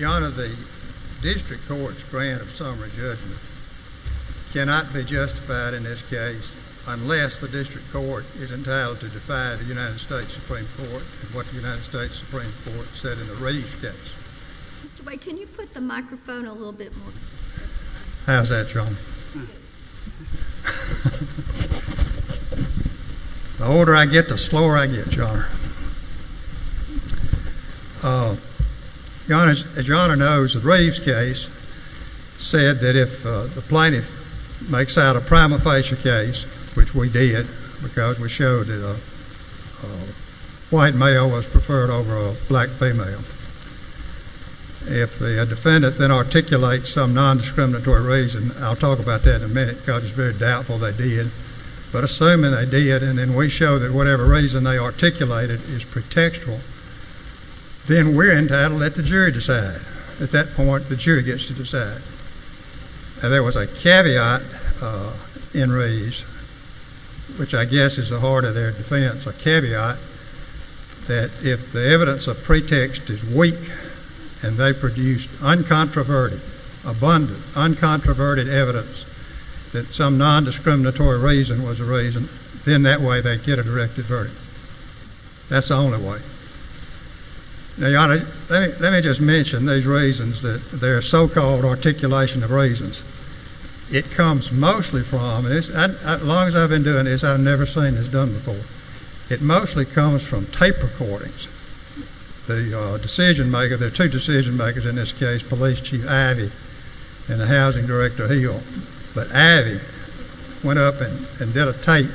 The District Court's grant of summary judgment cannot be justified in this case unless the District Court is entitled to defy the U.S. Supreme Court in what the U.S. Supreme Court said in the re-sketch. Mr. White, can you put the microphone a little bit more to the side? How's that, Your Honor? The older I get, the slower I get, Your Honor. As Your Honor knows, the Reeves case said that if the plaintiff makes out a prima facie case, which we did, because we showed that a white male was preferred over a black female, if the defendant then articulates some nondiscriminatory reason, I'll talk about that in a minute because it's very doubtful they did, but assuming they did and we show that whatever reason they articulated is pretextual, then we're entitled to let the jury decide. At that point, the jury gets to decide. There was a caveat in Reeves, which I guess is the heart of their defense, a caveat that if the evidence of pretext is weak and they produced uncontroverted, abundant, uncontroverted evidence that some nondiscriminatory reason was the reason, then that way they'd get a directed verdict. That's the only way. Now, Your Honor, let me just mention these reasons, their so-called articulation of reasons. It comes mostly from, as long as I've been doing this, I've never seen this done before. It mostly comes from tape recordings. The decision-maker, there are two decision-makers in this case, Police Chief Abbey and the Housing Director Hill, but Abbey went up and did a tape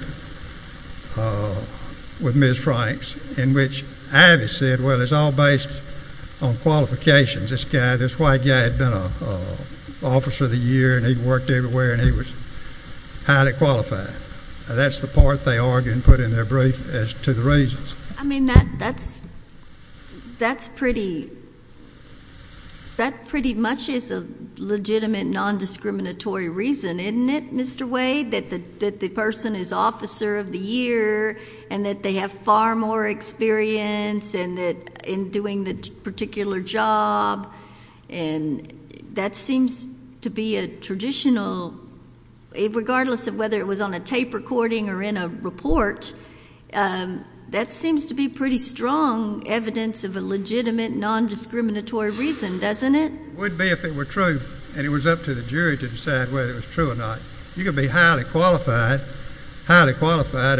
with Ms. Franks in which Abbey said, well, it's all based on qualifications. This guy, this white guy had been an officer of the year and he worked everywhere and he was highly qualified. That's the part they argued and put in their brief as to the reasons. I mean, that's pretty much is a legitimate nondiscriminatory reason, isn't it, Mr. Wade, that the person is officer of the year and that they have far more experience in doing the particular job? And that seems to be a traditional, regardless of whether it was on a tape recording or in a report, that seems to be pretty strong evidence of a legitimate nondiscriminatory reason, doesn't it? It would be if it were true, and it was up to the jury to decide whether it was true or not. You could be highly qualified, highly qualified,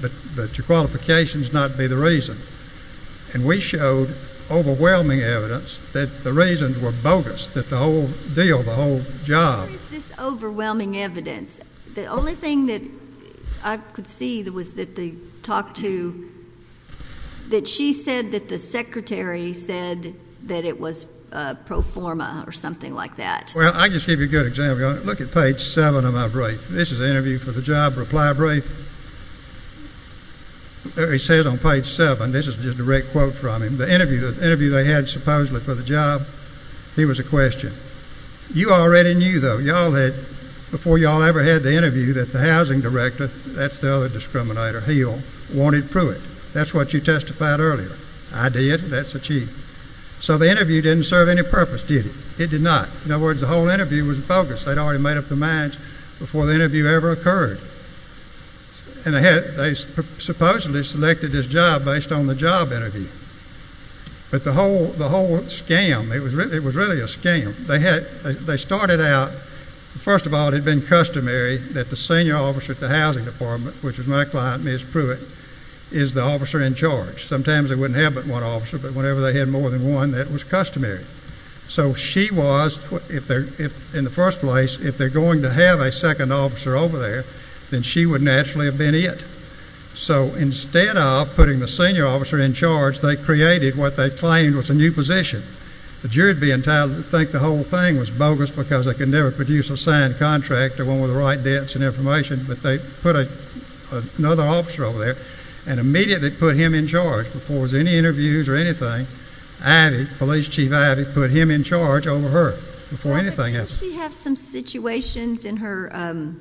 but your qualifications not be the reason. And we showed overwhelming evidence that the reasons were bogus, that the whole deal, the whole job. Where is this overwhelming evidence? The only thing that I could see was that she said that the secretary said that it was pro forma or something like that. Well, I'll just give you a good example. Look at page seven of my brief. This is the interview for the job reply brief. It says on page seven, this is just a direct quote from him, the interview they had supposedly for the job, here was a question. You already knew, though, before you all ever had the interview, that the housing director, that's the other discriminator, Hill, wanted Pruitt. That's what you testified earlier. I did. That's the chief. So the interview didn't serve any purpose, did it? It did not. In other words, the whole interview was bogus. They'd already made up their minds before the interview ever occurred. And they supposedly selected his job based on the job interview. But the whole scam, it was really a scam. They started out, first of all, it had been customary that the senior officer at the housing department, which was my client, Ms. Pruitt, is the officer in charge. Sometimes they wouldn't have but one officer, but whenever they had more than one, that was customary. So she was, in the first place, if they're going to have a second officer over there, then she would naturally have been it. So instead of putting the senior officer in charge, they created what they claimed was a new position. The jury would be entitled to think the whole thing was bogus because they could never produce a signed contract or one with the right depths and information. But they put another officer over there and immediately put him in charge. Before any interviews or anything, Ivy, police chief Ivy, put him in charge over her before anything else. Did she have some situations in her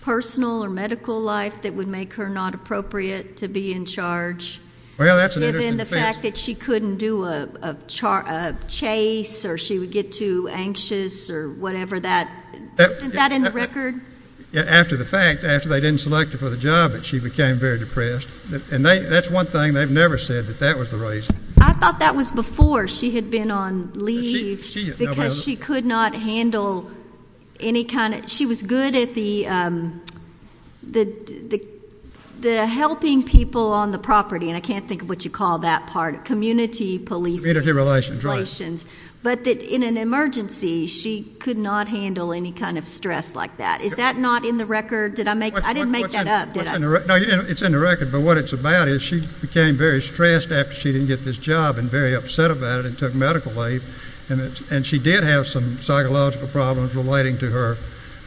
personal or medical life that would make her not appropriate to be in charge? Well, that's an interesting question. Given the fact that she couldn't do a chase or she would get too anxious or whatever that, isn't that in the record? After the fact, after they didn't select her for the job, she became very depressed. And that's one thing they've never said, that that was the reason. I thought that was before she had been on leave because she could not handle any kind of ‑‑ she was good at the helping people on the property, and I can't think of what you call that part, community policing. Community relations. But that in an emergency, she could not handle any kind of stress like that. Is that not in the record? I didn't make that up, did I? No, it's in the record. But what it's about is she became very stressed after she didn't get this job and very upset about it and took medical leave. And she did have some psychological problems relating to her,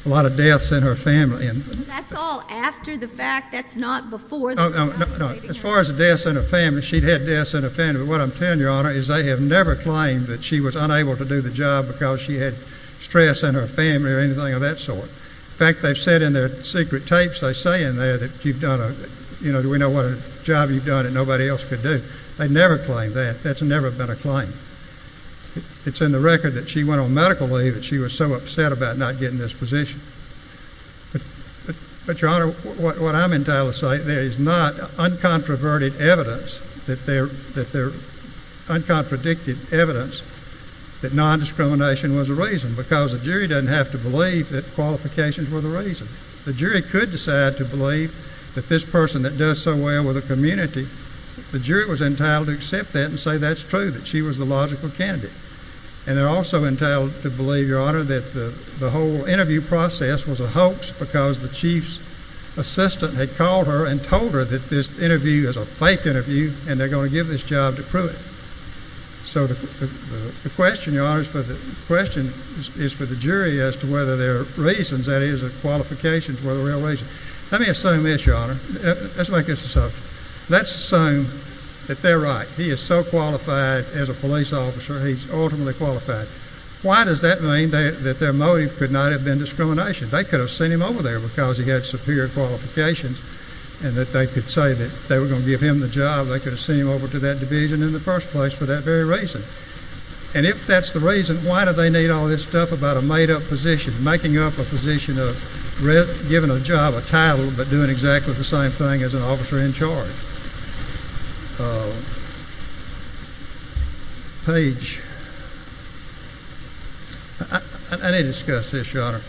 a lot of deaths in her family. That's all after the fact. That's not before the fact. As far as deaths in her family, she'd had deaths in her family. But what I'm telling you, Your Honor, is they have never claimed that she was unable to do the job because she had stress in her family or anything of that sort. In fact, they've said in their secret tapes, they say in there that you've done a ‑‑ you know, we know what a job you've done that nobody else could do. They never claim that. That's never been a claim. It's in the record that she went on medical leave and she was so upset about not getting this position. But, Your Honor, what I'm entitled to say, there is not uncontroverted evidence that there ‑‑ that there ‑‑ uncontradicted evidence that nondiscrimination was a reason because the jury doesn't have to believe that qualifications were the reason. The jury could decide to believe that this person that does so well with the community, the jury was entitled to accept that and say that's true, that she was the logical candidate. And they're also entitled to believe, Your Honor, that the whole interview process was a hoax because the chief's assistant had called her and told her that this interview is a fake interview and they're going to give this job to Pruitt. So, the question, Your Honor, is for the jury as to whether there are reasons, that is, that qualifications were the real reason. Let me assume this, Your Honor. Let's make this assumption. Let's assume that they're right. He is so qualified as a police officer, he's ultimately qualified. Why does that mean that their motive could not have been discrimination? They could have sent him over there because he had superior qualifications and that they could say that they were going to give him the job. They could have sent him over to that division in the first place for that very reason. And if that's the reason, why do they need all this stuff about a made-up position, making up a position of giving a job a title but doing exactly the same thing as an officer in charge? Paige. I need to discuss this, Your Honor.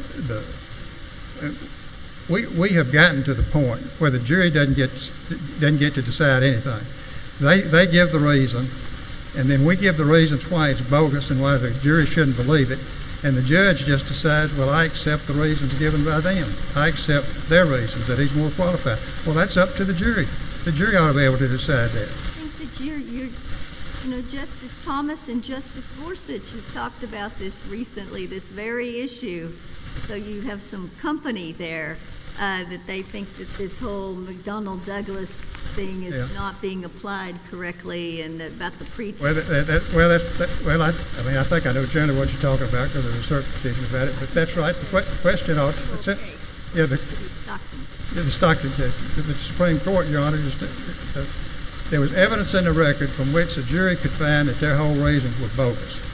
We have gotten to the point where the jury doesn't get to decide anything. They give the reason, and then we give the reasons why it's bogus and why the jury shouldn't believe it, and the judge just decides, well, I accept the reasons given by them. I accept their reasons that he's more qualified. Well, that's up to the jury. The jury ought to be able to decide that. I think that Justice Thomas and Justice Gorsuch have talked about this recently, this very issue. So you have some company there that they think that this whole McDonnell-Douglas thing is not being applied correctly and about the pretrial. Well, I mean, I think I know generally what you're talking about because there's a certain opinion about it, but that's right. The question ought to be the Stockton case. The Supreme Court, Your Honor, there was evidence in the record from which the jury could find that their whole reasons were bogus.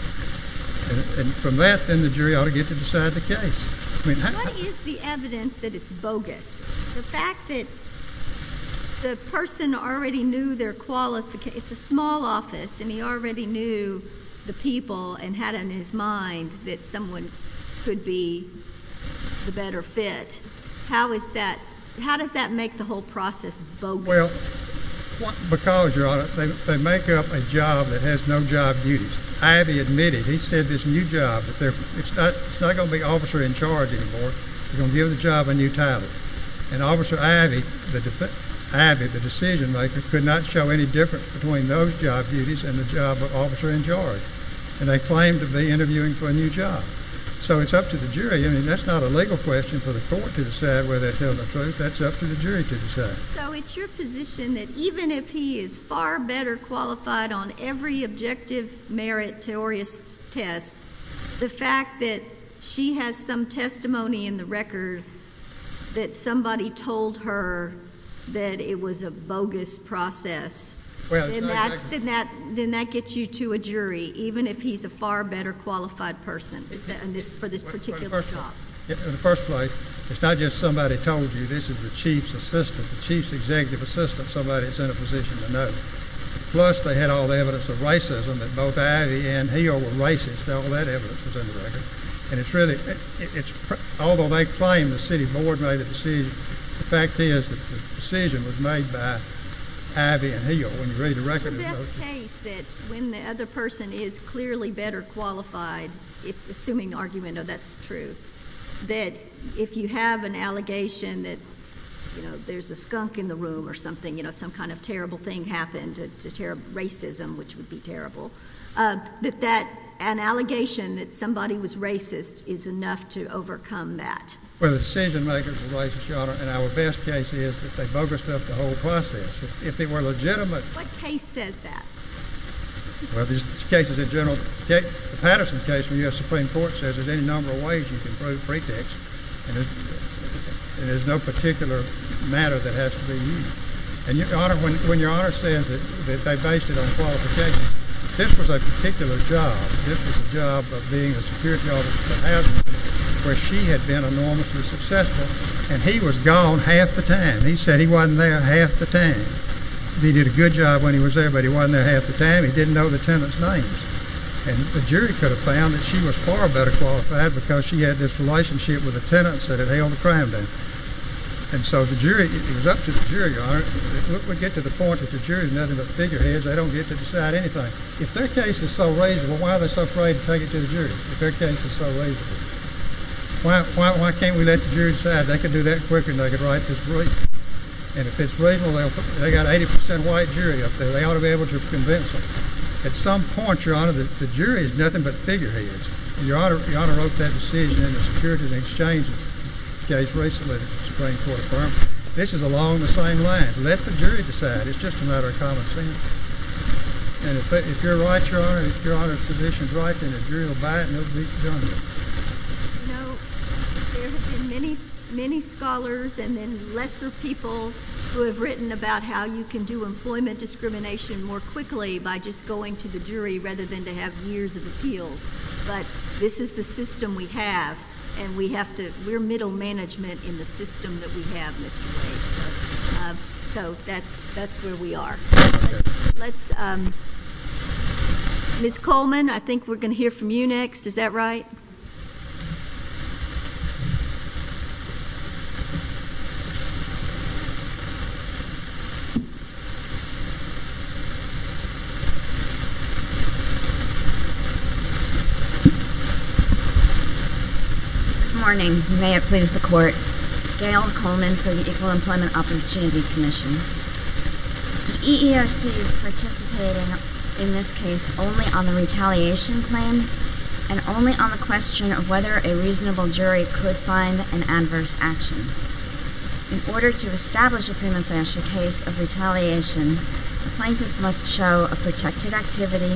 And from that, then the jury ought to get to decide the case. What is the evidence that it's bogus? The fact that the person already knew their qualifications. It's a small office, and he already knew the people and had it in his mind that someone could be the better fit. How does that make the whole process bogus? Well, because, Your Honor, they make up a job that has no job duties. Abbey admitted. He said this new job, it's not going to be officer in charge anymore. They're going to give the job a new title. And Officer Abbey, the decision-maker, could not show any difference between those job duties and the job of officer in charge. And they claimed to be interviewing for a new job. So it's up to the jury. I mean, that's not a legal question for the court to decide whether they're telling the truth. That's up to the jury to decide. So it's your position that even if he is far better qualified on every objective, meritorious test, the fact that she has some testimony in the record that somebody told her that it was a bogus process, then that gets you to a jury, even if he's a far better qualified person for this particular job? In the first place, it's not just somebody told you this is the chief's assistant, the chief's executive assistant, somebody that's in a position to know. Plus, they had all the evidence of racism that both Abbey and Hill were racist. All that evidence was in the record. And it's really, although they claim the city board made the decision, the fact is that the decision was made by Abbey and Hill when you read the record. It's our best case that when the other person is clearly better qualified, assuming the argument, oh, that's true, that if you have an allegation that, you know, there's a skunk in the room or something, you know, some kind of terrible thing happened, racism, which would be terrible, that an allegation that somebody was racist is enough to overcome that. Well, the decision-makers are racist, Your Honor, and our best case is that they bogus-ed up the whole process. If they were legitimate. What case says that? Well, this case is a general case. The Patterson case in the U.S. Supreme Court says there's any number of ways you can prove pretext, and there's no particular matter that has to be used. And, Your Honor, when Your Honor says that they based it on qualification, this was a particular job. This was a job of being a security officer for a housemaid where she had been enormously successful, and he was gone half the time. And he said he wasn't there half the time. He did a good job when he was there, but he wasn't there half the time. He didn't know the tenant's name. And the jury could have found that she was far better qualified because she had this relationship with the tenants that had held the crime down. And so the jury, it was up to the jury, Your Honor. We get to the point that the jury is nothing but figureheads. They don't get to decide anything. If their case is so reasonable, why are they so afraid to take it to the jury, if their case is so reasonable? Why can't we let the jury decide? They could do that quicker than they could write this brief. And if it's reasonable, they've got an 80 percent white jury up there. They ought to be able to convince them. At some point, Your Honor, the jury is nothing but figureheads. Your Honor wrote that decision in the Securities and Exchange case recently at the Supreme Court of Firms. This is along the same lines. Let the jury decide. It's just a matter of common sense. And if you're right, Your Honor, and if Your Honor's position is right, then the jury will buy it and it will be done with. You know, there have been many, many scholars and then lesser people who have written about how you can do employment discrimination more quickly by just going to the jury rather than to have years of appeals. But this is the system we have, and we're middle management in the system that we have, Mr. Wade. So that's where we are. Ms. Coleman, I think we're going to hear from you next. Is that right? Good morning. May it please the Court. Gail Coleman for the Equal Employment Opportunity Commission. The EEOC is participating in this case only on the retaliation claim and only on the question of whether a reasonable jury could find an adverse action. In order to establish a premature case of retaliation, the plaintiff must show a protected activity,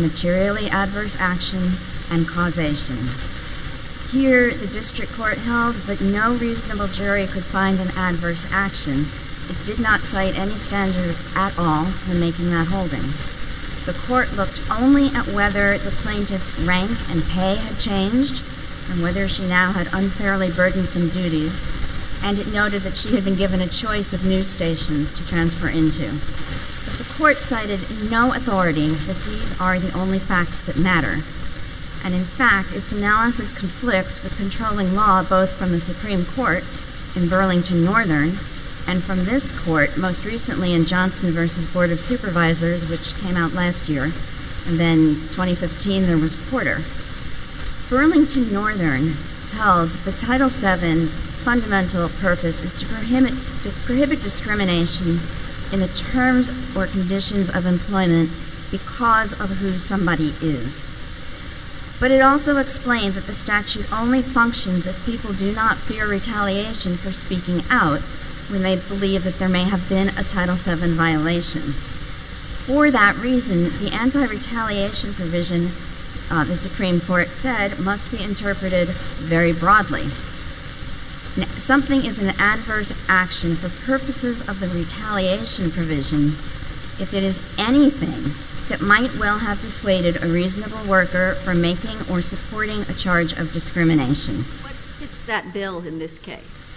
materially adverse action, and causation. Here, the district court held that no reasonable jury could find an adverse action. It did not cite any standard at all in making that holding. The court looked only at whether the plaintiff's rank and pay had changed and whether she now had unfairly burdensome duties, and it noted that she had been given a choice of news stations to transfer into. But the court cited no authority that these are the only facts that matter. And in fact, its analysis conflicts with controlling law both from the Supreme Court in Burlington Northern and from this court most recently in Johnson v. Board of Supervisors, which came out last year, and then 2015 there was Porter. Burlington Northern tells that Title VII's fundamental purpose is to prohibit discrimination in the terms or conditions of employment because of who somebody is. But it also explained that the statute only functions if people do not fear retaliation for speaking out when they believe that there may have been a Title VII violation. For that reason, the anti-retaliation provision, the Supreme Court said, must be interpreted very broadly. Something is an adverse action for purposes of the retaliation provision if it is anything that might well have dissuaded a reasonable worker from making or supporting a charge of discrimination. What fits that bill in this case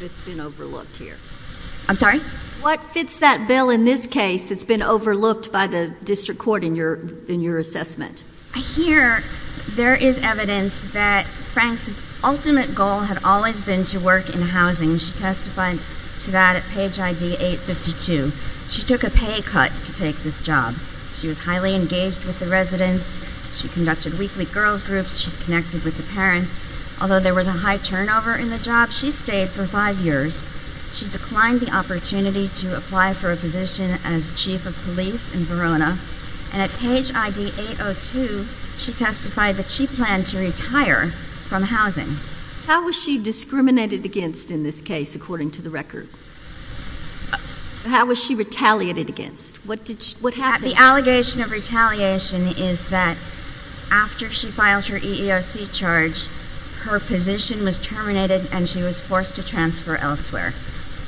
that's been overlooked here? I'm sorry? What fits that bill in this case that's been overlooked by the district court in your assessment? I hear there is evidence that Frank's ultimate goal had always been to work in housing. She testified to that at page ID 852. She took a pay cut to take this job. She was highly engaged with the residents. She conducted weekly girls' groups. She connected with the parents. Although there was a high turnover in the job, she stayed for five years. She declined the opportunity to apply for a position as chief of police in Verona. And at page ID 802, she testified that she planned to retire from housing. How was she discriminated against in this case, according to the record? How was she retaliated against? What happened? The allegation of retaliation is that after she filed her EEOC charge, her position was terminated and she was forced to transfer elsewhere.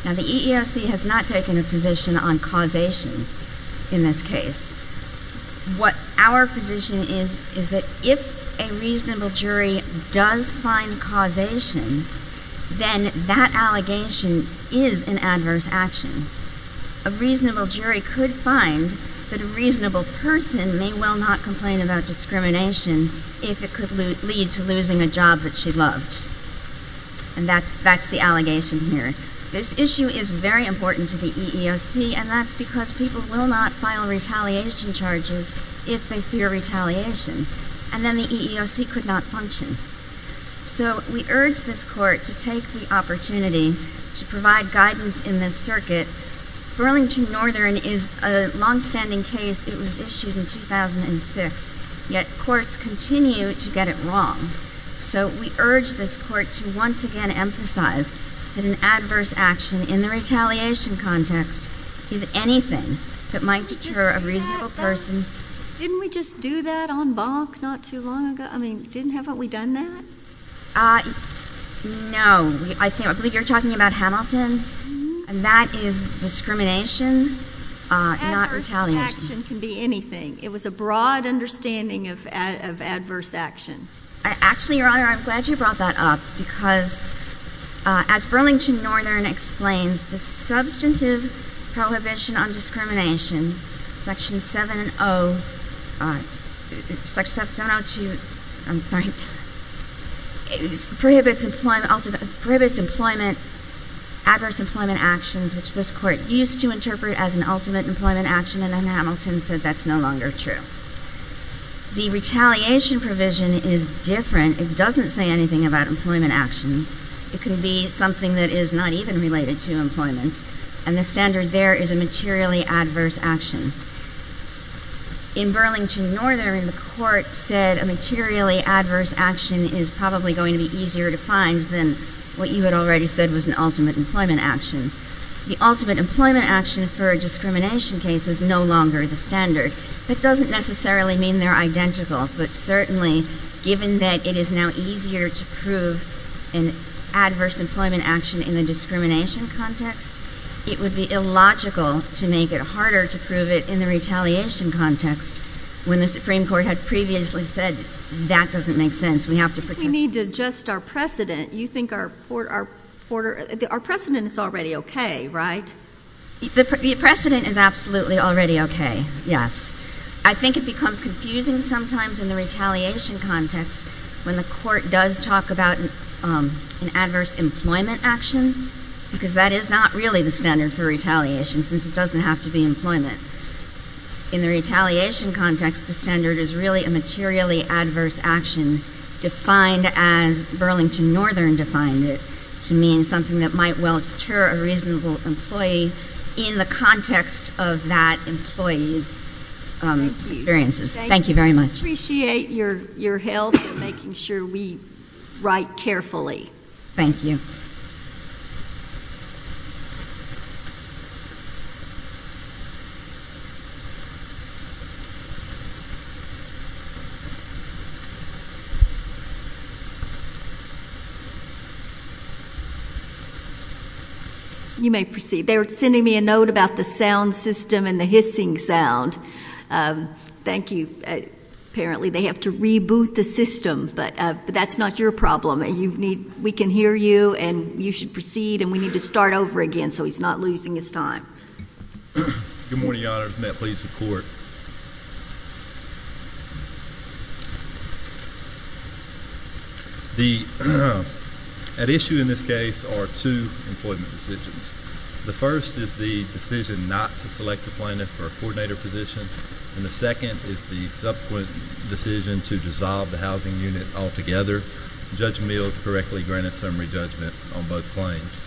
Now, the EEOC has not taken a position on causation in this case. What our position is is that if a reasonable jury does find causation, then that allegation is an adverse action. A reasonable jury could find that a reasonable person may well not complain about discrimination if it could lead to losing a job that she loved. And that's the allegation here. This issue is very important to the EEOC, and that's because people will not file retaliation charges if they fear retaliation. And then the EEOC could not function. So we urge this court to take the opportunity to provide guidance in this circuit. Burlington Northern is a longstanding case. It was issued in 2006, yet courts continue to get it wrong. So we urge this court to once again emphasize that an adverse action in the retaliation context is anything that might deter a reasonable person. Didn't we just do that on Bonk not too long ago? I mean, haven't we done that? No. I believe you're talking about Hamilton. And that is discrimination, not retaliation. Adverse action can be anything. It was a broad understanding of adverse action. Actually, Your Honor, I'm glad you brought that up, because as Burlington Northern explains, the substantive prohibition on discrimination, Section 702 prohibits adverse employment actions, which this court used to interpret as an ultimate employment action, and then Hamilton said that's no longer true. The retaliation provision is different. It doesn't say anything about employment actions. It can be something that is not even related to employment, and the standard there is a materially adverse action. In Burlington Northern, the court said a materially adverse action is probably going to be easier to find than what you had already said was an ultimate employment action. The ultimate employment action for a discrimination case is no longer the standard. That doesn't necessarily mean they're identical, but certainly given that it is now easier to prove an adverse employment action in the discrimination context, it would be illogical to make it harder to prove it in the retaliation context when the Supreme Court had previously said that doesn't make sense. If we need to adjust our precedent, you think our precedent is already okay, right? The precedent is absolutely already okay, yes. I think it becomes confusing sometimes in the retaliation context when the court does talk about an adverse employment action, because that is not really the standard for retaliation since it doesn't have to be employment. In the retaliation context, the standard is really a materially adverse action defined as Burlington Northern defined it to mean something that might well deter a reasonable employee in the context of that employee's experiences. Thank you very much. I appreciate your help in making sure we write carefully. Thank you. Thank you. You may proceed. They were sending me a note about the sound system and the hissing sound. Thank you. Apparently they have to reboot the system, but that's not your problem. We can hear you, and you should proceed, and we need to start over again so he's not losing his time. Good morning, Your Honors. May I please report? At issue in this case are two employment decisions. The first is the decision not to select the plaintiff or coordinator position, and the second is the subsequent decision to dissolve the housing unit altogether. Judge Mills correctly granted summary judgment on both claims.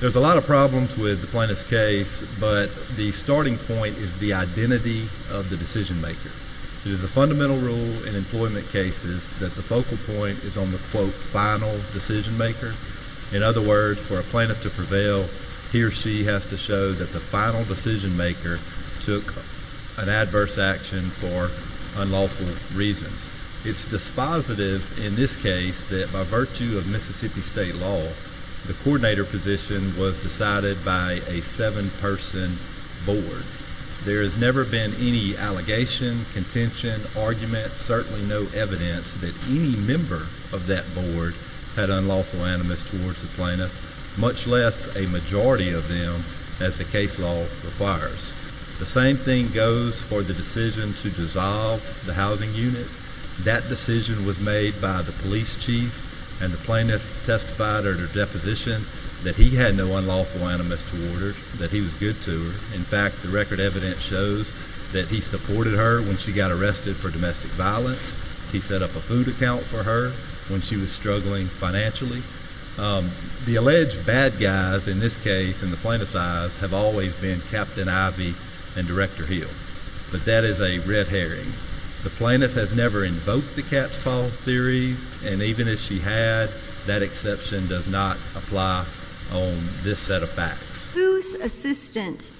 There's a lot of problems with the plaintiff's case, but the starting point is the identity of the decision maker. It is the fundamental rule in employment cases that the focal point is on the, quote, final decision maker. In other words, for a plaintiff to prevail, he or she has to show that the final decision maker took an adverse action for unlawful reasons. It's dispositive in this case that by virtue of Mississippi State law, the coordinator position was decided by a seven-person board. There has never been any allegation, contention, argument, certainly no evidence that any member of that board had unlawful animus towards the plaintiff, much less a majority of them, as the case law requires. The same thing goes for the decision to dissolve the housing unit. That decision was made by the police chief, and the plaintiff testified at her deposition that he had no unlawful animus toward her, that he was good to her. In fact, the record evidence shows that he supported her when she got arrested for domestic violence. He set up a food account for her when she was struggling financially. The alleged bad guys in this case, in the plaintiff's eyes, have always been Captain Ivey and Director Hill. But that is a red herring. The plaintiff has never invoked the cat's paw theories, and even if she had, that exception does not apply on this set of facts. Whose assistant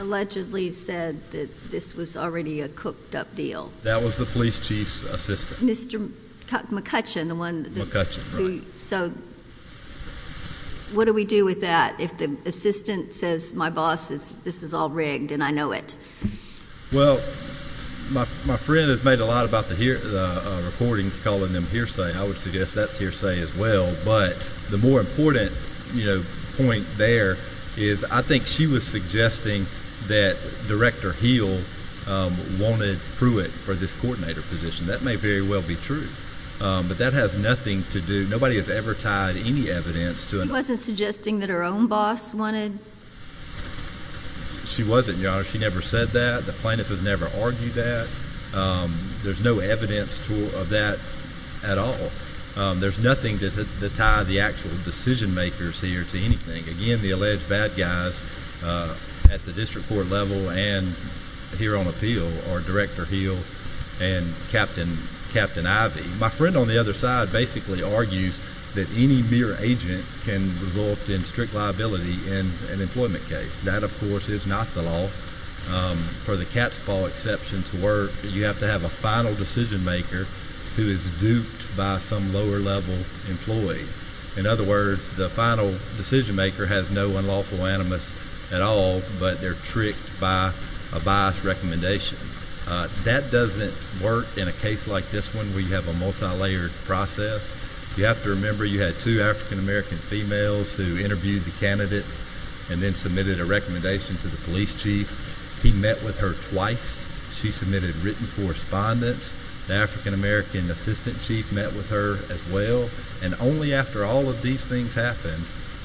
allegedly said that this was already a cooked-up deal? That was the police chief's assistant. Mr. McCutcheon, the one who… So what do we do with that if the assistant says, my boss, this is all rigged and I know it? Well, my friend has made a lot about the recordings calling them hearsay. I would suggest that's hearsay as well. But the more important point there is I think she was suggesting that Director Hill wanted Pruitt for this coordinator position. That may very well be true. But that has nothing to do… Nobody has ever tied any evidence to… She wasn't suggesting that her own boss wanted… She wasn't, Your Honor. She never said that. The plaintiff has never argued that. There's no evidence of that at all. There's nothing to tie the actual decision-makers here to anything. Again, the alleged bad guys at the district court level and here on appeal are Director Hill and Captain Ivey. My friend on the other side basically argues that any mere agent can result in strict liability in an employment case. That, of course, is not the law. For the Catspaw exception to work, you have to have a final decision-maker who is duped by some lower-level employee. In other words, the final decision-maker has no unlawful animus at all, but they're tricked by a biased recommendation. That doesn't work in a case like this one where you have a multilayered process. You have to remember you had two African-American females who interviewed the candidates and then submitted a recommendation to the police chief. He met with her twice. She submitted written correspondence. The African-American assistant chief met with her as well. And only after all of these things happened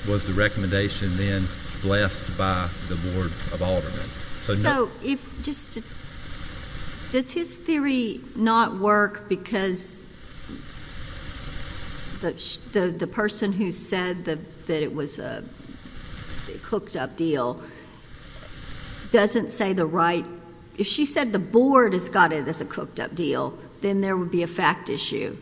was the recommendation then blessed by the Board of Aldermen. So no— So if—just—does his theory not work because the person who said that it was a cooked-up deal doesn't say the right— if she said the Board has got it as a cooked-up deal, then there would be a fact issue,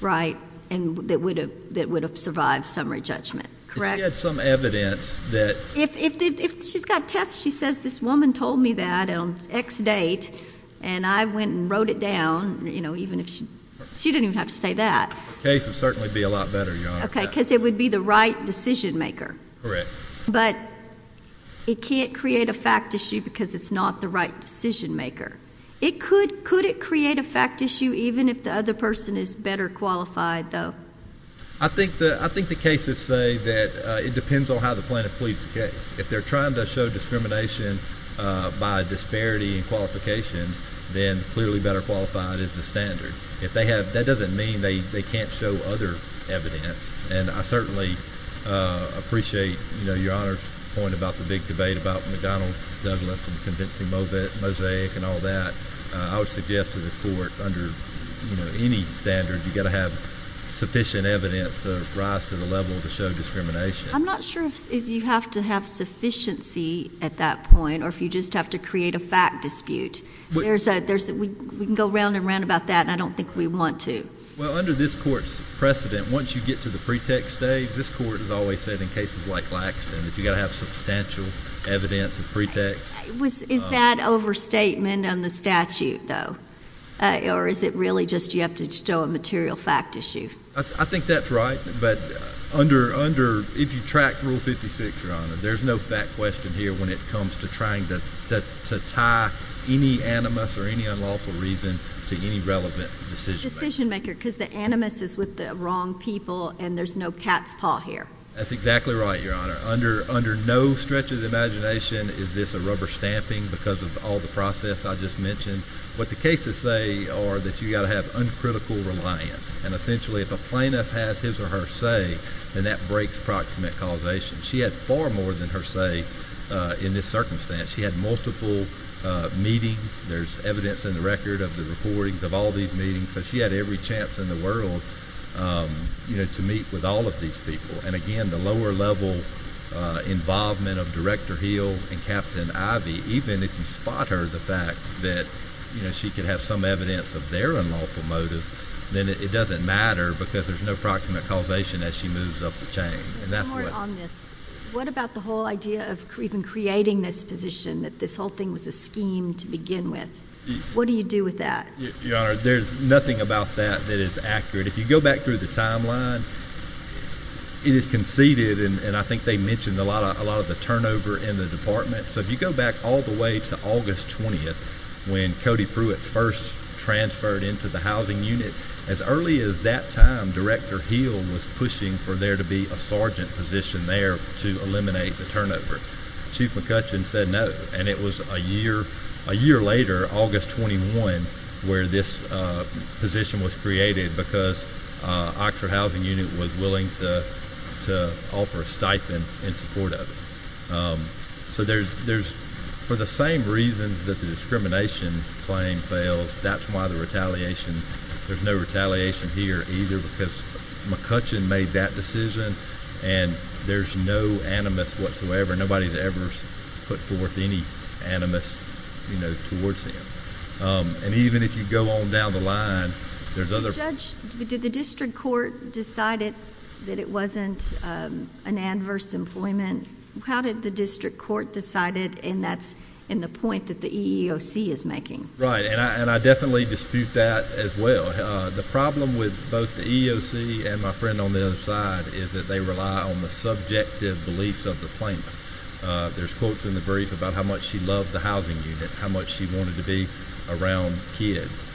right? And that would have survived summary judgment, correct? If she had some evidence that— If she's got tests, she says, this woman told me that on X date, and I went and wrote it down, you know, even if she—she didn't even have to say that. The case would certainly be a lot better, Your Honor. Okay, because it would be the right decision-maker. Correct. But it can't create a fact issue because it's not the right decision-maker. Could it create a fact issue even if the other person is better qualified, though? I think the cases say that it depends on how the plaintiff pleads the case. If they're trying to show discrimination by disparity in qualifications, then clearly better qualified is the standard. If they have—that doesn't mean they can't show other evidence. And I certainly appreciate, you know, Your Honor's point about the big debate about McDonnell Douglas and convincing Mosaic and all that. I would suggest to the Court under, you know, any standard, you've got to have sufficient evidence to rise to the level to show discrimination. I'm not sure if you have to have sufficiency at that point or if you just have to create a fact dispute. There's a—we can go round and round about that, and I don't think we want to. Well, under this Court's precedent, once you get to the pretext stage, this Court has always said in cases like Laxton that you've got to have substantial evidence of pretext. Is that overstatement on the statute, though? Or is it really just you have to show a material fact issue? I think that's right. But under—if you track Rule 56, Your Honor, there's no fact question here when it comes to trying to tie any animus or any unlawful reason to any relevant decision-maker. Because the animus is with the wrong people, and there's no cat's paw here. That's exactly right, Your Honor. Under no stretch of the imagination is this a rubber stamping because of all the process I just mentioned. What the cases say are that you've got to have uncritical reliance. And essentially, if a plaintiff has his or her say, then that breaks proximate causation. She had far more than her say in this circumstance. She had multiple meetings. There's evidence in the record of the recordings of all these meetings. So she had every chance in the world, you know, to meet with all of these people. And again, the lower-level involvement of Director Hill and Captain Ivey, even if you spot her the fact that, you know, she could have some evidence of their unlawful motive, then it doesn't matter because there's no proximate causation as she moves up the chain. And that's what— What about the whole idea of even creating this position, that this whole thing was a scheme to begin with? What do you do with that? Your Honor, there's nothing about that that is accurate. If you go back through the timeline, it is conceded, and I think they mentioned a lot of the turnover in the department. So if you go back all the way to August 20th when Cody Pruitt first transferred into the housing unit, as early as that time, Director Hill was pushing for there to be a sergeant position there to eliminate the turnover. Chief McCutcheon said no. And it was a year later, August 21, where this position was created because Oxford Housing Unit was willing to offer a stipend in support of it. So there's—for the same reasons that the discrimination claim fails, that's why the retaliation— there's no retaliation here either because McCutcheon made that decision, and there's no animus whatsoever. Nobody's ever put forth any animus towards him. And even if you go on down the line, there's other— Judge, did the district court decide that it wasn't an adverse employment? How did the district court decide it, and that's in the point that the EEOC is making? Right, and I definitely dispute that as well. The problem with both the EEOC and my friend on the other side is that they rely on the subjective beliefs of the plaintiff. There's quotes in the brief about how much she loved the housing unit, how much she wanted to be around kids.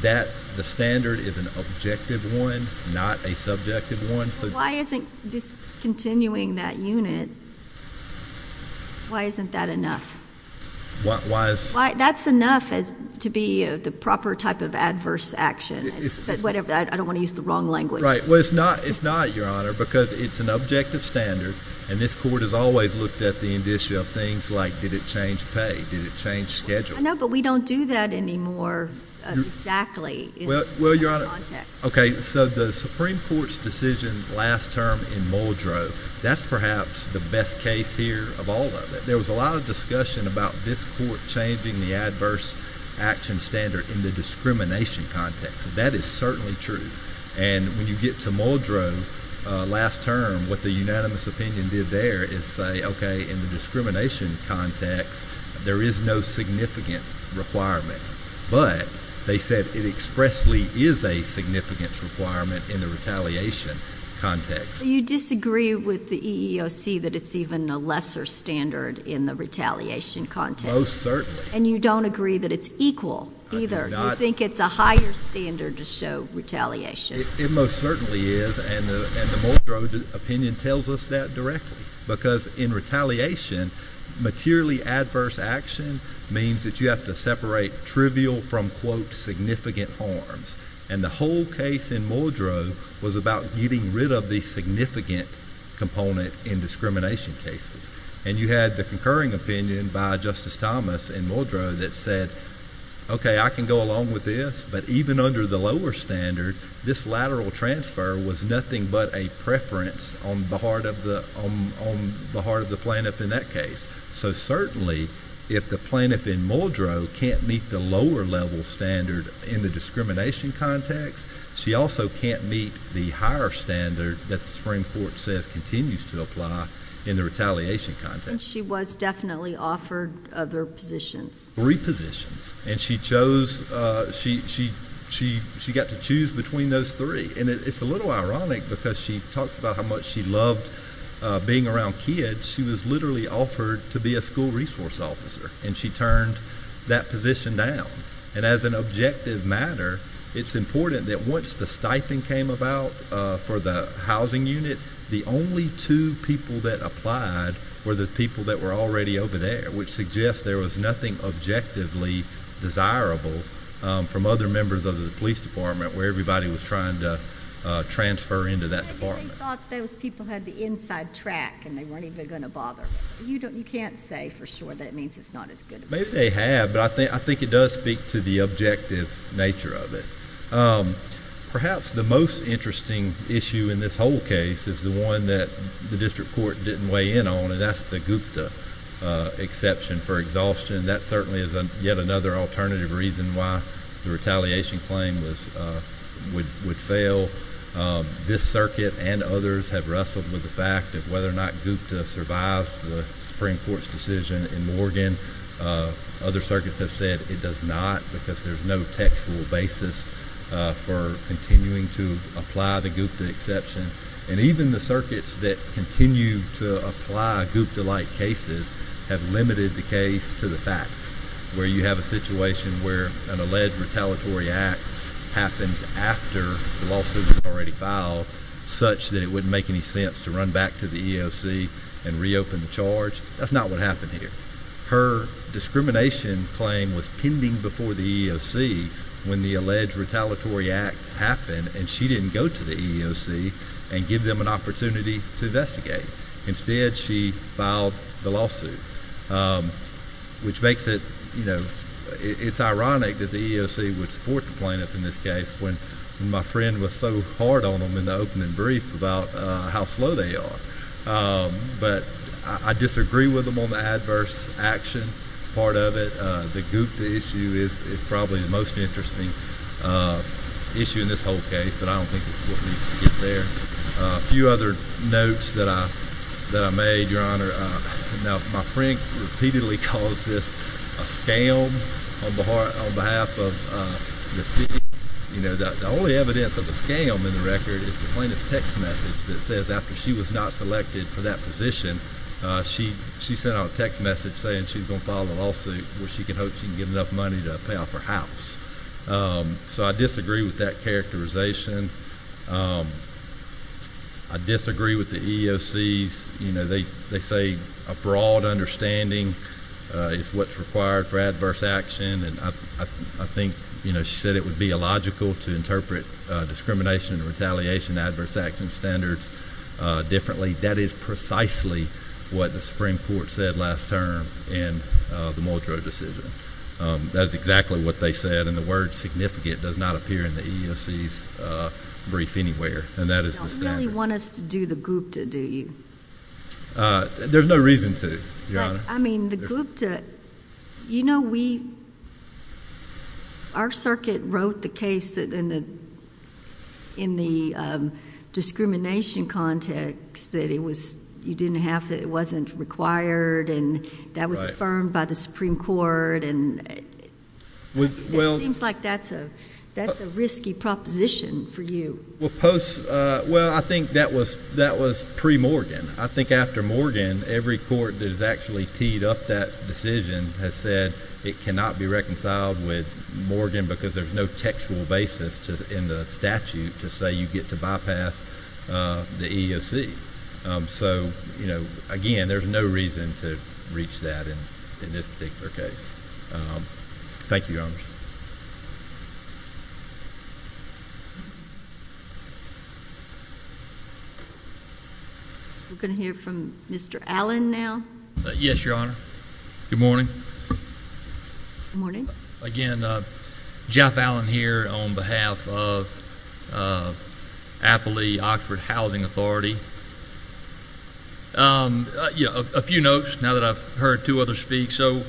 That—the standard is an objective one, not a subjective one. Why isn't discontinuing that unit—why isn't that enough? Why is— That's enough to be the proper type of adverse action. I don't want to use the wrong language. Right, well, it's not, Your Honor, because it's an objective standard, and this court has always looked at the issue of things like did it change pay, did it change schedule. I know, but we don't do that anymore exactly in that context. Well, Your Honor, okay, so the Supreme Court's decision last term in Muldrow, that's perhaps the best case here of all of it. There was a lot of discussion about this court changing the adverse action standard in the discrimination context. That is certainly true. And when you get to Muldrow last term, what the unanimous opinion did there is say, okay, in the discrimination context, there is no significant requirement. But they said it expressly is a significant requirement in the retaliation context. You disagree with the EEOC that it's even a lesser standard in the retaliation context. Most certainly. And you don't agree that it's equal either. I do not. You think it's a higher standard to show retaliation. It most certainly is, and the Muldrow opinion tells us that directly. Because in retaliation, materially adverse action means that you have to separate trivial from, quote, significant harms. And the whole case in Muldrow was about getting rid of the significant component in discrimination cases. And you had the concurring opinion by Justice Thomas in Muldrow that said, okay, I can go along with this, but even under the lower standard, this lateral transfer was nothing but a preference on the part of the plaintiff in that case. So certainly, if the plaintiff in Muldrow can't meet the lower level standard in the discrimination context, she also can't meet the higher standard that the Supreme Court says continues to apply in the retaliation context. And she was definitely offered other positions. Three positions. And she got to choose between those three. And it's a little ironic because she talks about how much she loved being around kids. She was literally offered to be a school resource officer, and she turned that position down. And as an objective matter, it's important that once the stipend came about for the housing unit, the only two people that applied were the people that were already over there, which suggests there was nothing objectively desirable from other members of the police department where everybody was trying to transfer into that department. I thought those people had the inside track and they weren't even going to bother. You can't say for sure that it means it's not as good. Maybe they have, but I think it does speak to the objective nature of it. Perhaps the most interesting issue in this whole case is the one that the district court didn't weigh in on, and that's the Gupta exception for exhaustion. That certainly is yet another alternative reason why the retaliation claim would fail. This circuit and others have wrestled with the fact that whether or not Gupta survives the Supreme Court's decision in Morgan. Other circuits have said it does not because there's no textual basis for continuing to apply the Gupta exception. Even the circuits that continue to apply Gupta-like cases have limited the case to the facts, where you have a situation where an alleged retaliatory act happens after the lawsuit is already filed such that it wouldn't make any sense to run back to the EEOC and reopen the charge. That's not what happened here. Her discrimination claim was pending before the EEOC when the alleged retaliatory act happened, and she didn't go to the EEOC and give them an opportunity to investigate. Instead, she filed the lawsuit, which makes it ironic that the EEOC would support the plaintiff in this case when my friend was so hard on them in the opening brief about how slow they are. But I disagree with them on the adverse action part of it. The Gupta issue is probably the most interesting issue in this whole case, but I don't think it's what needs to get there. A few other notes that I made, Your Honor. Now, my friend repeatedly calls this a scam on behalf of the city. The only evidence of a scam in the record is the plaintiff's text message that says after she was not selected for that position, she sent out a text message saying she's going to file a lawsuit where she can hope she can get enough money to pay off her house. So I disagree with that characterization. I disagree with the EEOC's, you know, they say a broad understanding is what's required for adverse action, and I think, you know, she said it would be illogical to interpret discrimination and retaliation adverse action standards differently. That is precisely what the Supreme Court said last term in the Muldrow decision. That is exactly what they said, and the word significant does not appear in the EEOC's brief anywhere, and that is the standard. You don't really want us to do the Gupta, do you? There's no reason to, Your Honor. I mean, the Gupta, you know, we, our circuit wrote the case in the discrimination context that it was, you didn't have to, it wasn't required, and that was affirmed by the Supreme Court, and it seems like that's a risky proposition for you. Well, post, well, I think that was pre-Morgan. I think after Morgan, every court that has actually teed up that decision has said it cannot be reconciled with Morgan because there's no textual basis in the statute to say you get to bypass the EEOC. So, you know, again, there's no reason to reach that in this particular case. Thank you, Your Honor. We're going to hear from Mr. Allen now. Yes, Your Honor. Good morning. Good morning. Again, Jeff Allen here on behalf of Apley Oxford Housing Authority. You know, a few notes now that I've heard two others speak. So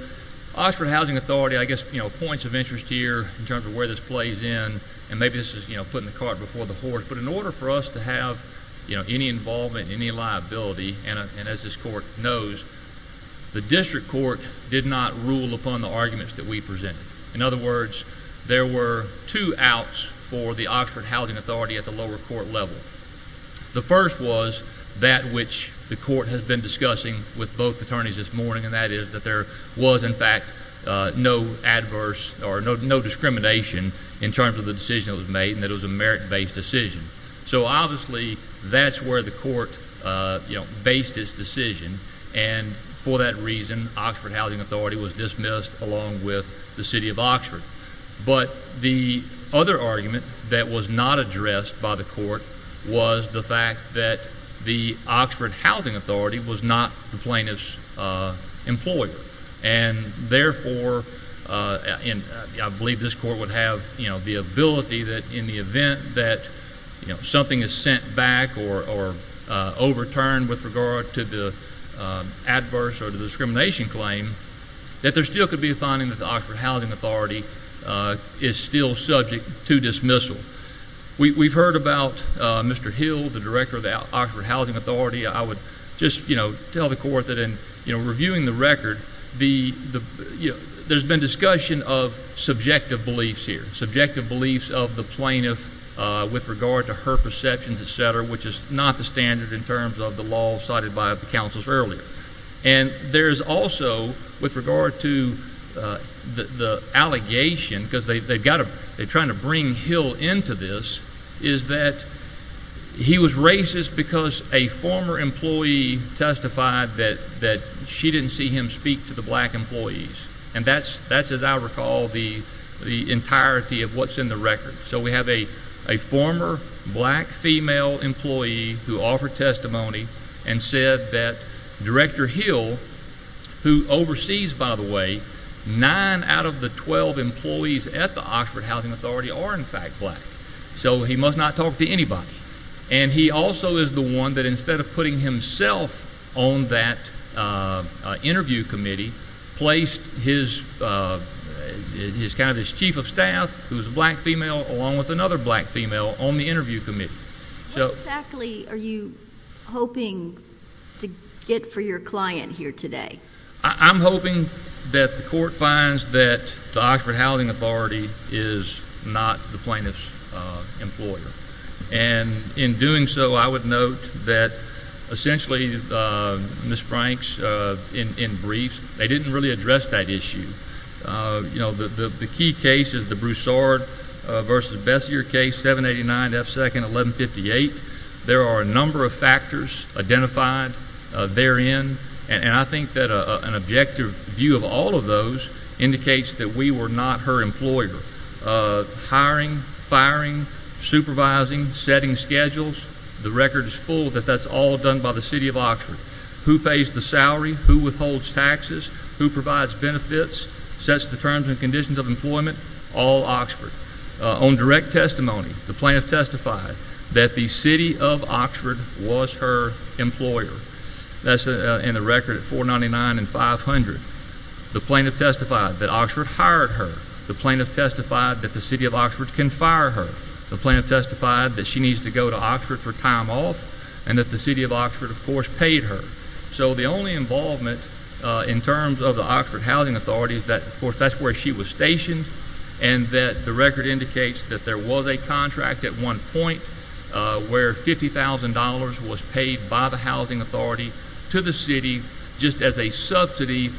Oxford Housing Authority, I guess, you know, points of interest here in terms of where this plays in, and maybe this is, you know, putting the cart before the horse, but in order for us to have, you know, any involvement, any liability, and as this court knows, the district court did not rule upon the arguments that we presented. In other words, there were two outs for the Oxford Housing Authority at the lower court level. The first was that which the court has been discussing with both attorneys this morning, and that is that there was, in fact, no adverse or no discrimination in terms of the decision that was made and that it was a merit-based decision. So, obviously, that's where the court, you know, based its decision, and for that reason, Oxford Housing Authority was dismissed along with the city of Oxford. But the other argument that was not addressed by the court was the fact that the Oxford Housing Authority was not the plaintiff's employer, and therefore, I believe this court would have, you know, the ability that in the event that, you know, something is sent back or overturned with regard to the adverse or the discrimination claim, that there still could be a finding that the Oxford Housing Authority is still subject to dismissal. We've heard about Mr. Hill, the director of the Oxford Housing Authority. I would just, you know, tell the court that in reviewing the record, there's been discussion of subjective beliefs here, subjective beliefs of the plaintiff with regard to her perceptions, et cetera, which is not the standard in terms of the law cited by the counsels earlier. And there's also, with regard to the allegation, because they've got to—they're trying to bring Hill into this, is that he was racist because a former employee testified that she didn't see him speak to the black employees. And that's, as I recall, the entirety of what's in the record. So we have a former black female employee who offered testimony and said that Director Hill, who oversees, by the way, nine out of the 12 employees at the Oxford Housing Authority are, in fact, black. So he must not talk to anybody. And he also is the one that, instead of putting himself on that interview committee, placed his—kind of his chief of staff, who was a black female, along with another black female, on the interview committee. What exactly are you hoping to get for your client here today? I'm hoping that the court finds that the Oxford Housing Authority is not the plaintiff's employer. And in doing so, I would note that, essentially, Ms. Franks, in brief, they didn't really address that issue. You know, the key case is the Broussard v. Bessier case, 789 F. 2nd, 1158. There are a number of factors identified therein, and I think that an objective view of all of those indicates that we were not her employer. Hiring, firing, supervising, setting schedules, the record is full that that's all done by the city of Oxford. Who pays the salary, who withholds taxes, who provides benefits, sets the terms and conditions of employment, all Oxford. On direct testimony, the plaintiff testified that the city of Oxford was her employer. That's in the record at 499 and 500. The plaintiff testified that Oxford hired her. The plaintiff testified that the city of Oxford can fire her. The plaintiff testified that she needs to go to Oxford for time off and that the city of Oxford, of course, paid her. So the only involvement in terms of the Oxford Housing Authority is that, of course, that's where she was stationed and that the record indicates that there was a contract at one point where $50,000 was paid by the housing authority to the city just as a subsidy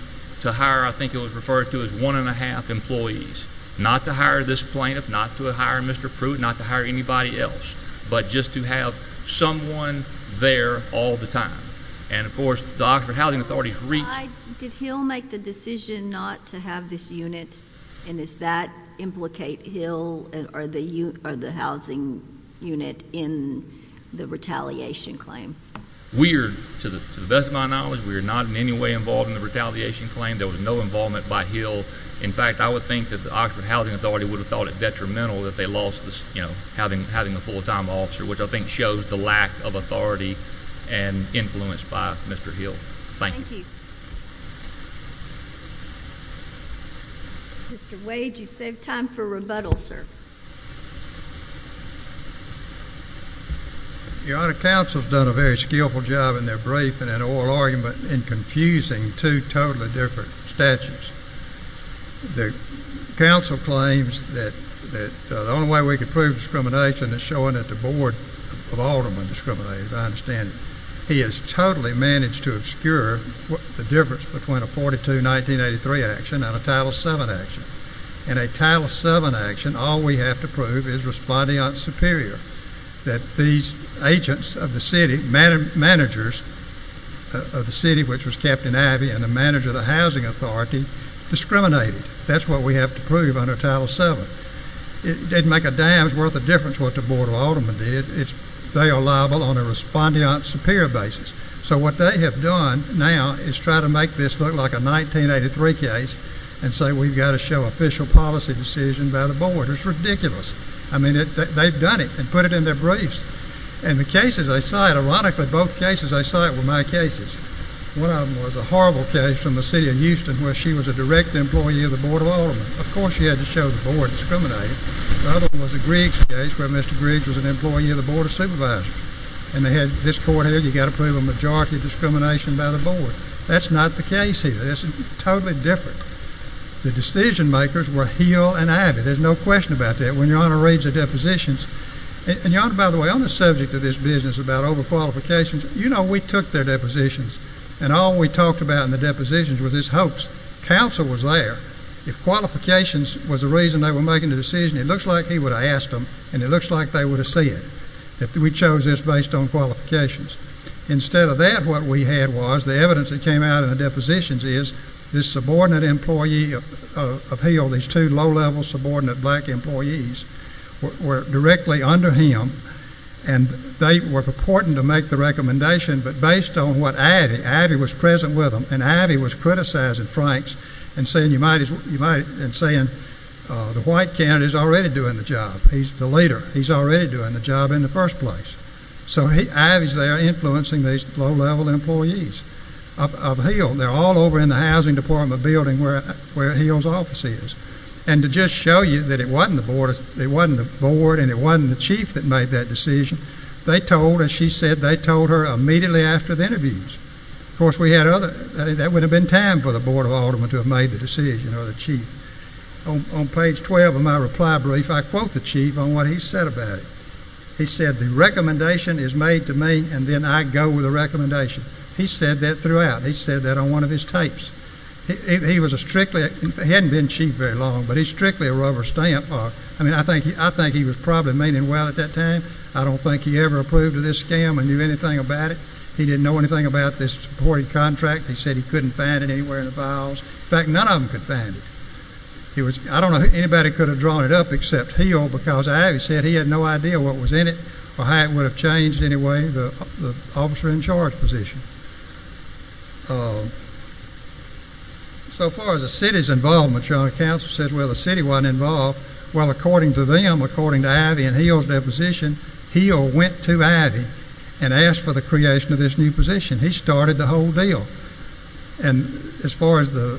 to hire, I think it was referred to as one and a half employees. Not to hire this plaintiff, not to hire Mr. Prude, not to hire anybody else, but just to have someone there all the time. And, of course, the Oxford Housing Authority's reach... Did Hill make the decision not to have this unit and does that implicate Hill or the housing unit in the retaliation claim? We are, to the best of my knowledge, we are not in any way involved in the retaliation claim. There was no involvement by Hill. In fact, I would think that the Oxford Housing Authority would have thought it detrimental that they lost having a full-time officer, which I think shows the lack of authority and influence by Mr. Hill. Thank you. Mr. Wade, you've saved time for rebuttal, sir. Your Honor, counsel's done a very skillful job in their briefing and oral argument in confusing two totally different statutes. The counsel claims that the only way we can prove discrimination is showing that the Board of Aldermen discriminated. I understand he has totally managed to obscure the difference between a 1942-1983 action and a Title VII action. In a Title VII action, all we have to prove is respondeant superior, that these agents of the city, managers of the city, which was Captain Abbey and the manager of the housing authority, discriminated. That's what we have to prove under Title VII. It didn't make a damn's worth of difference what the Board of Aldermen did. They are liable on a respondeant superior basis. So what they have done now is try to make this look like a 1983 case and say, we've got to show official policy decision by the Board. It's ridiculous. I mean, they've done it and put it in their briefs. And the cases they cite, ironically, both cases they cite were my cases. One of them was a horrible case from the city of Houston where she was a direct employee of the Board of Aldermen. Of course, she had to show the Board discriminated. The other one was a Griggs case where Mr. Griggs was an employee of the Board of Supervisors. And they had this court here. You've got to prove a majority discrimination by the Board. That's not the case here. This is totally different. The decision-makers were Hill and Abbey. There's no question about that. When Your Honor reads the depositions, and Your Honor, by the way, on the subject of this business about over-qualifications, you know we took their depositions, and all we talked about in the depositions was this hopes. Counsel was there. If qualifications was the reason they were making the decision, it looks like he would have asked them, and it looks like they would have said it. We chose this based on qualifications. Instead of that, what we had was the evidence that came out in the depositions is this subordinate employee of Hill, these two low-level subordinate black employees, were directly under him, and they were purporting to make the recommendation, but based on what Abbey, Abbey was present with them, and Abbey was criticizing Franks and saying the white candidate is already doing the job. He's the leader. He's already doing the job in the first place. So Abbey's there influencing these low-level employees of Hill. They're all over in the housing department building where Hill's office is. And to just show you that it wasn't the Board and it wasn't the Chief that made that decision, they told, as she said, they told her immediately after the interviews. Of course, that would have been time for the Board of Aldermen to have made the decision or the Chief. On page 12 of my reply brief, I quote the Chief on what he said about it. He said, the recommendation is made to me, and then I go with the recommendation. He said that throughout. He said that on one of his tapes. He was a strictly, hadn't been Chief very long, but he's strictly a rubber stamp. I mean, I think he was probably meaning well at that time. I don't think he ever approved of this scam or knew anything about it. He didn't know anything about this board contract. He said he couldn't find it anywhere in the files. In fact, none of them could find it. He was, I don't know, anybody could have drawn it up except Hill because Ivy said he had no idea what was in it or how it would have changed anyway, the officer in charge position. So far as the city's involvement, your Honor, counsel says, well, the city wasn't involved. Well, according to them, according to Ivy and Hill's deposition, Hill went to Ivy and asked for the creation of this new position. He started the whole deal. And as far as the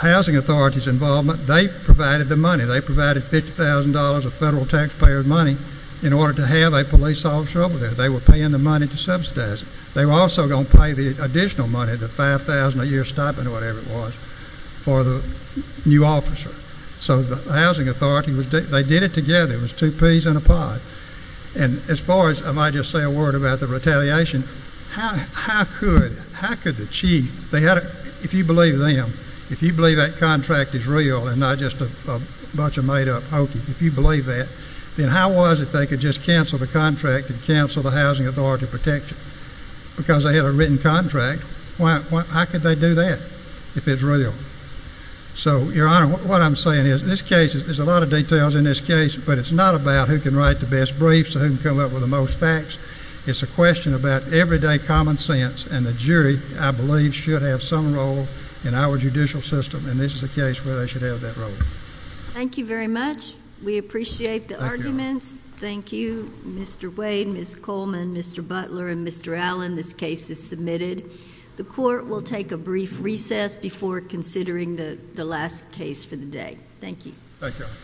housing authority's involvement, they provided the money. They provided $50,000 of federal taxpayer money in order to have a police officer over there. They were paying the money to subsidize it. They were also going to pay the additional money, the $5,000 a year stipend or whatever it was, for the new officer. So the housing authority, they did it together. It was two peas in a pod. And as far as I might just say a word about the retaliation, how could the chief, if you believe them, if you believe that contract is real and not just a bunch of made-up hokey, if you believe that, then how was it they could just cancel the contract and cancel the housing authority protection? Because they had a written contract. How could they do that if it's real? So, your Honor, what I'm saying is this case, there's a lot of details in this case, but it's not about who can write the best briefs and who can come up with the most facts. It's a question about everyday common sense, and the jury, I believe, should have some role in our judicial system, and this is a case where they should have that role. Thank you very much. We appreciate the arguments. Thank you, Mr. Wade, Ms. Coleman, Mr. Butler, and Mr. Allen. This case is submitted. The court will take a brief recess before considering the last case for the day. Thank you. Thank you, Your Honor.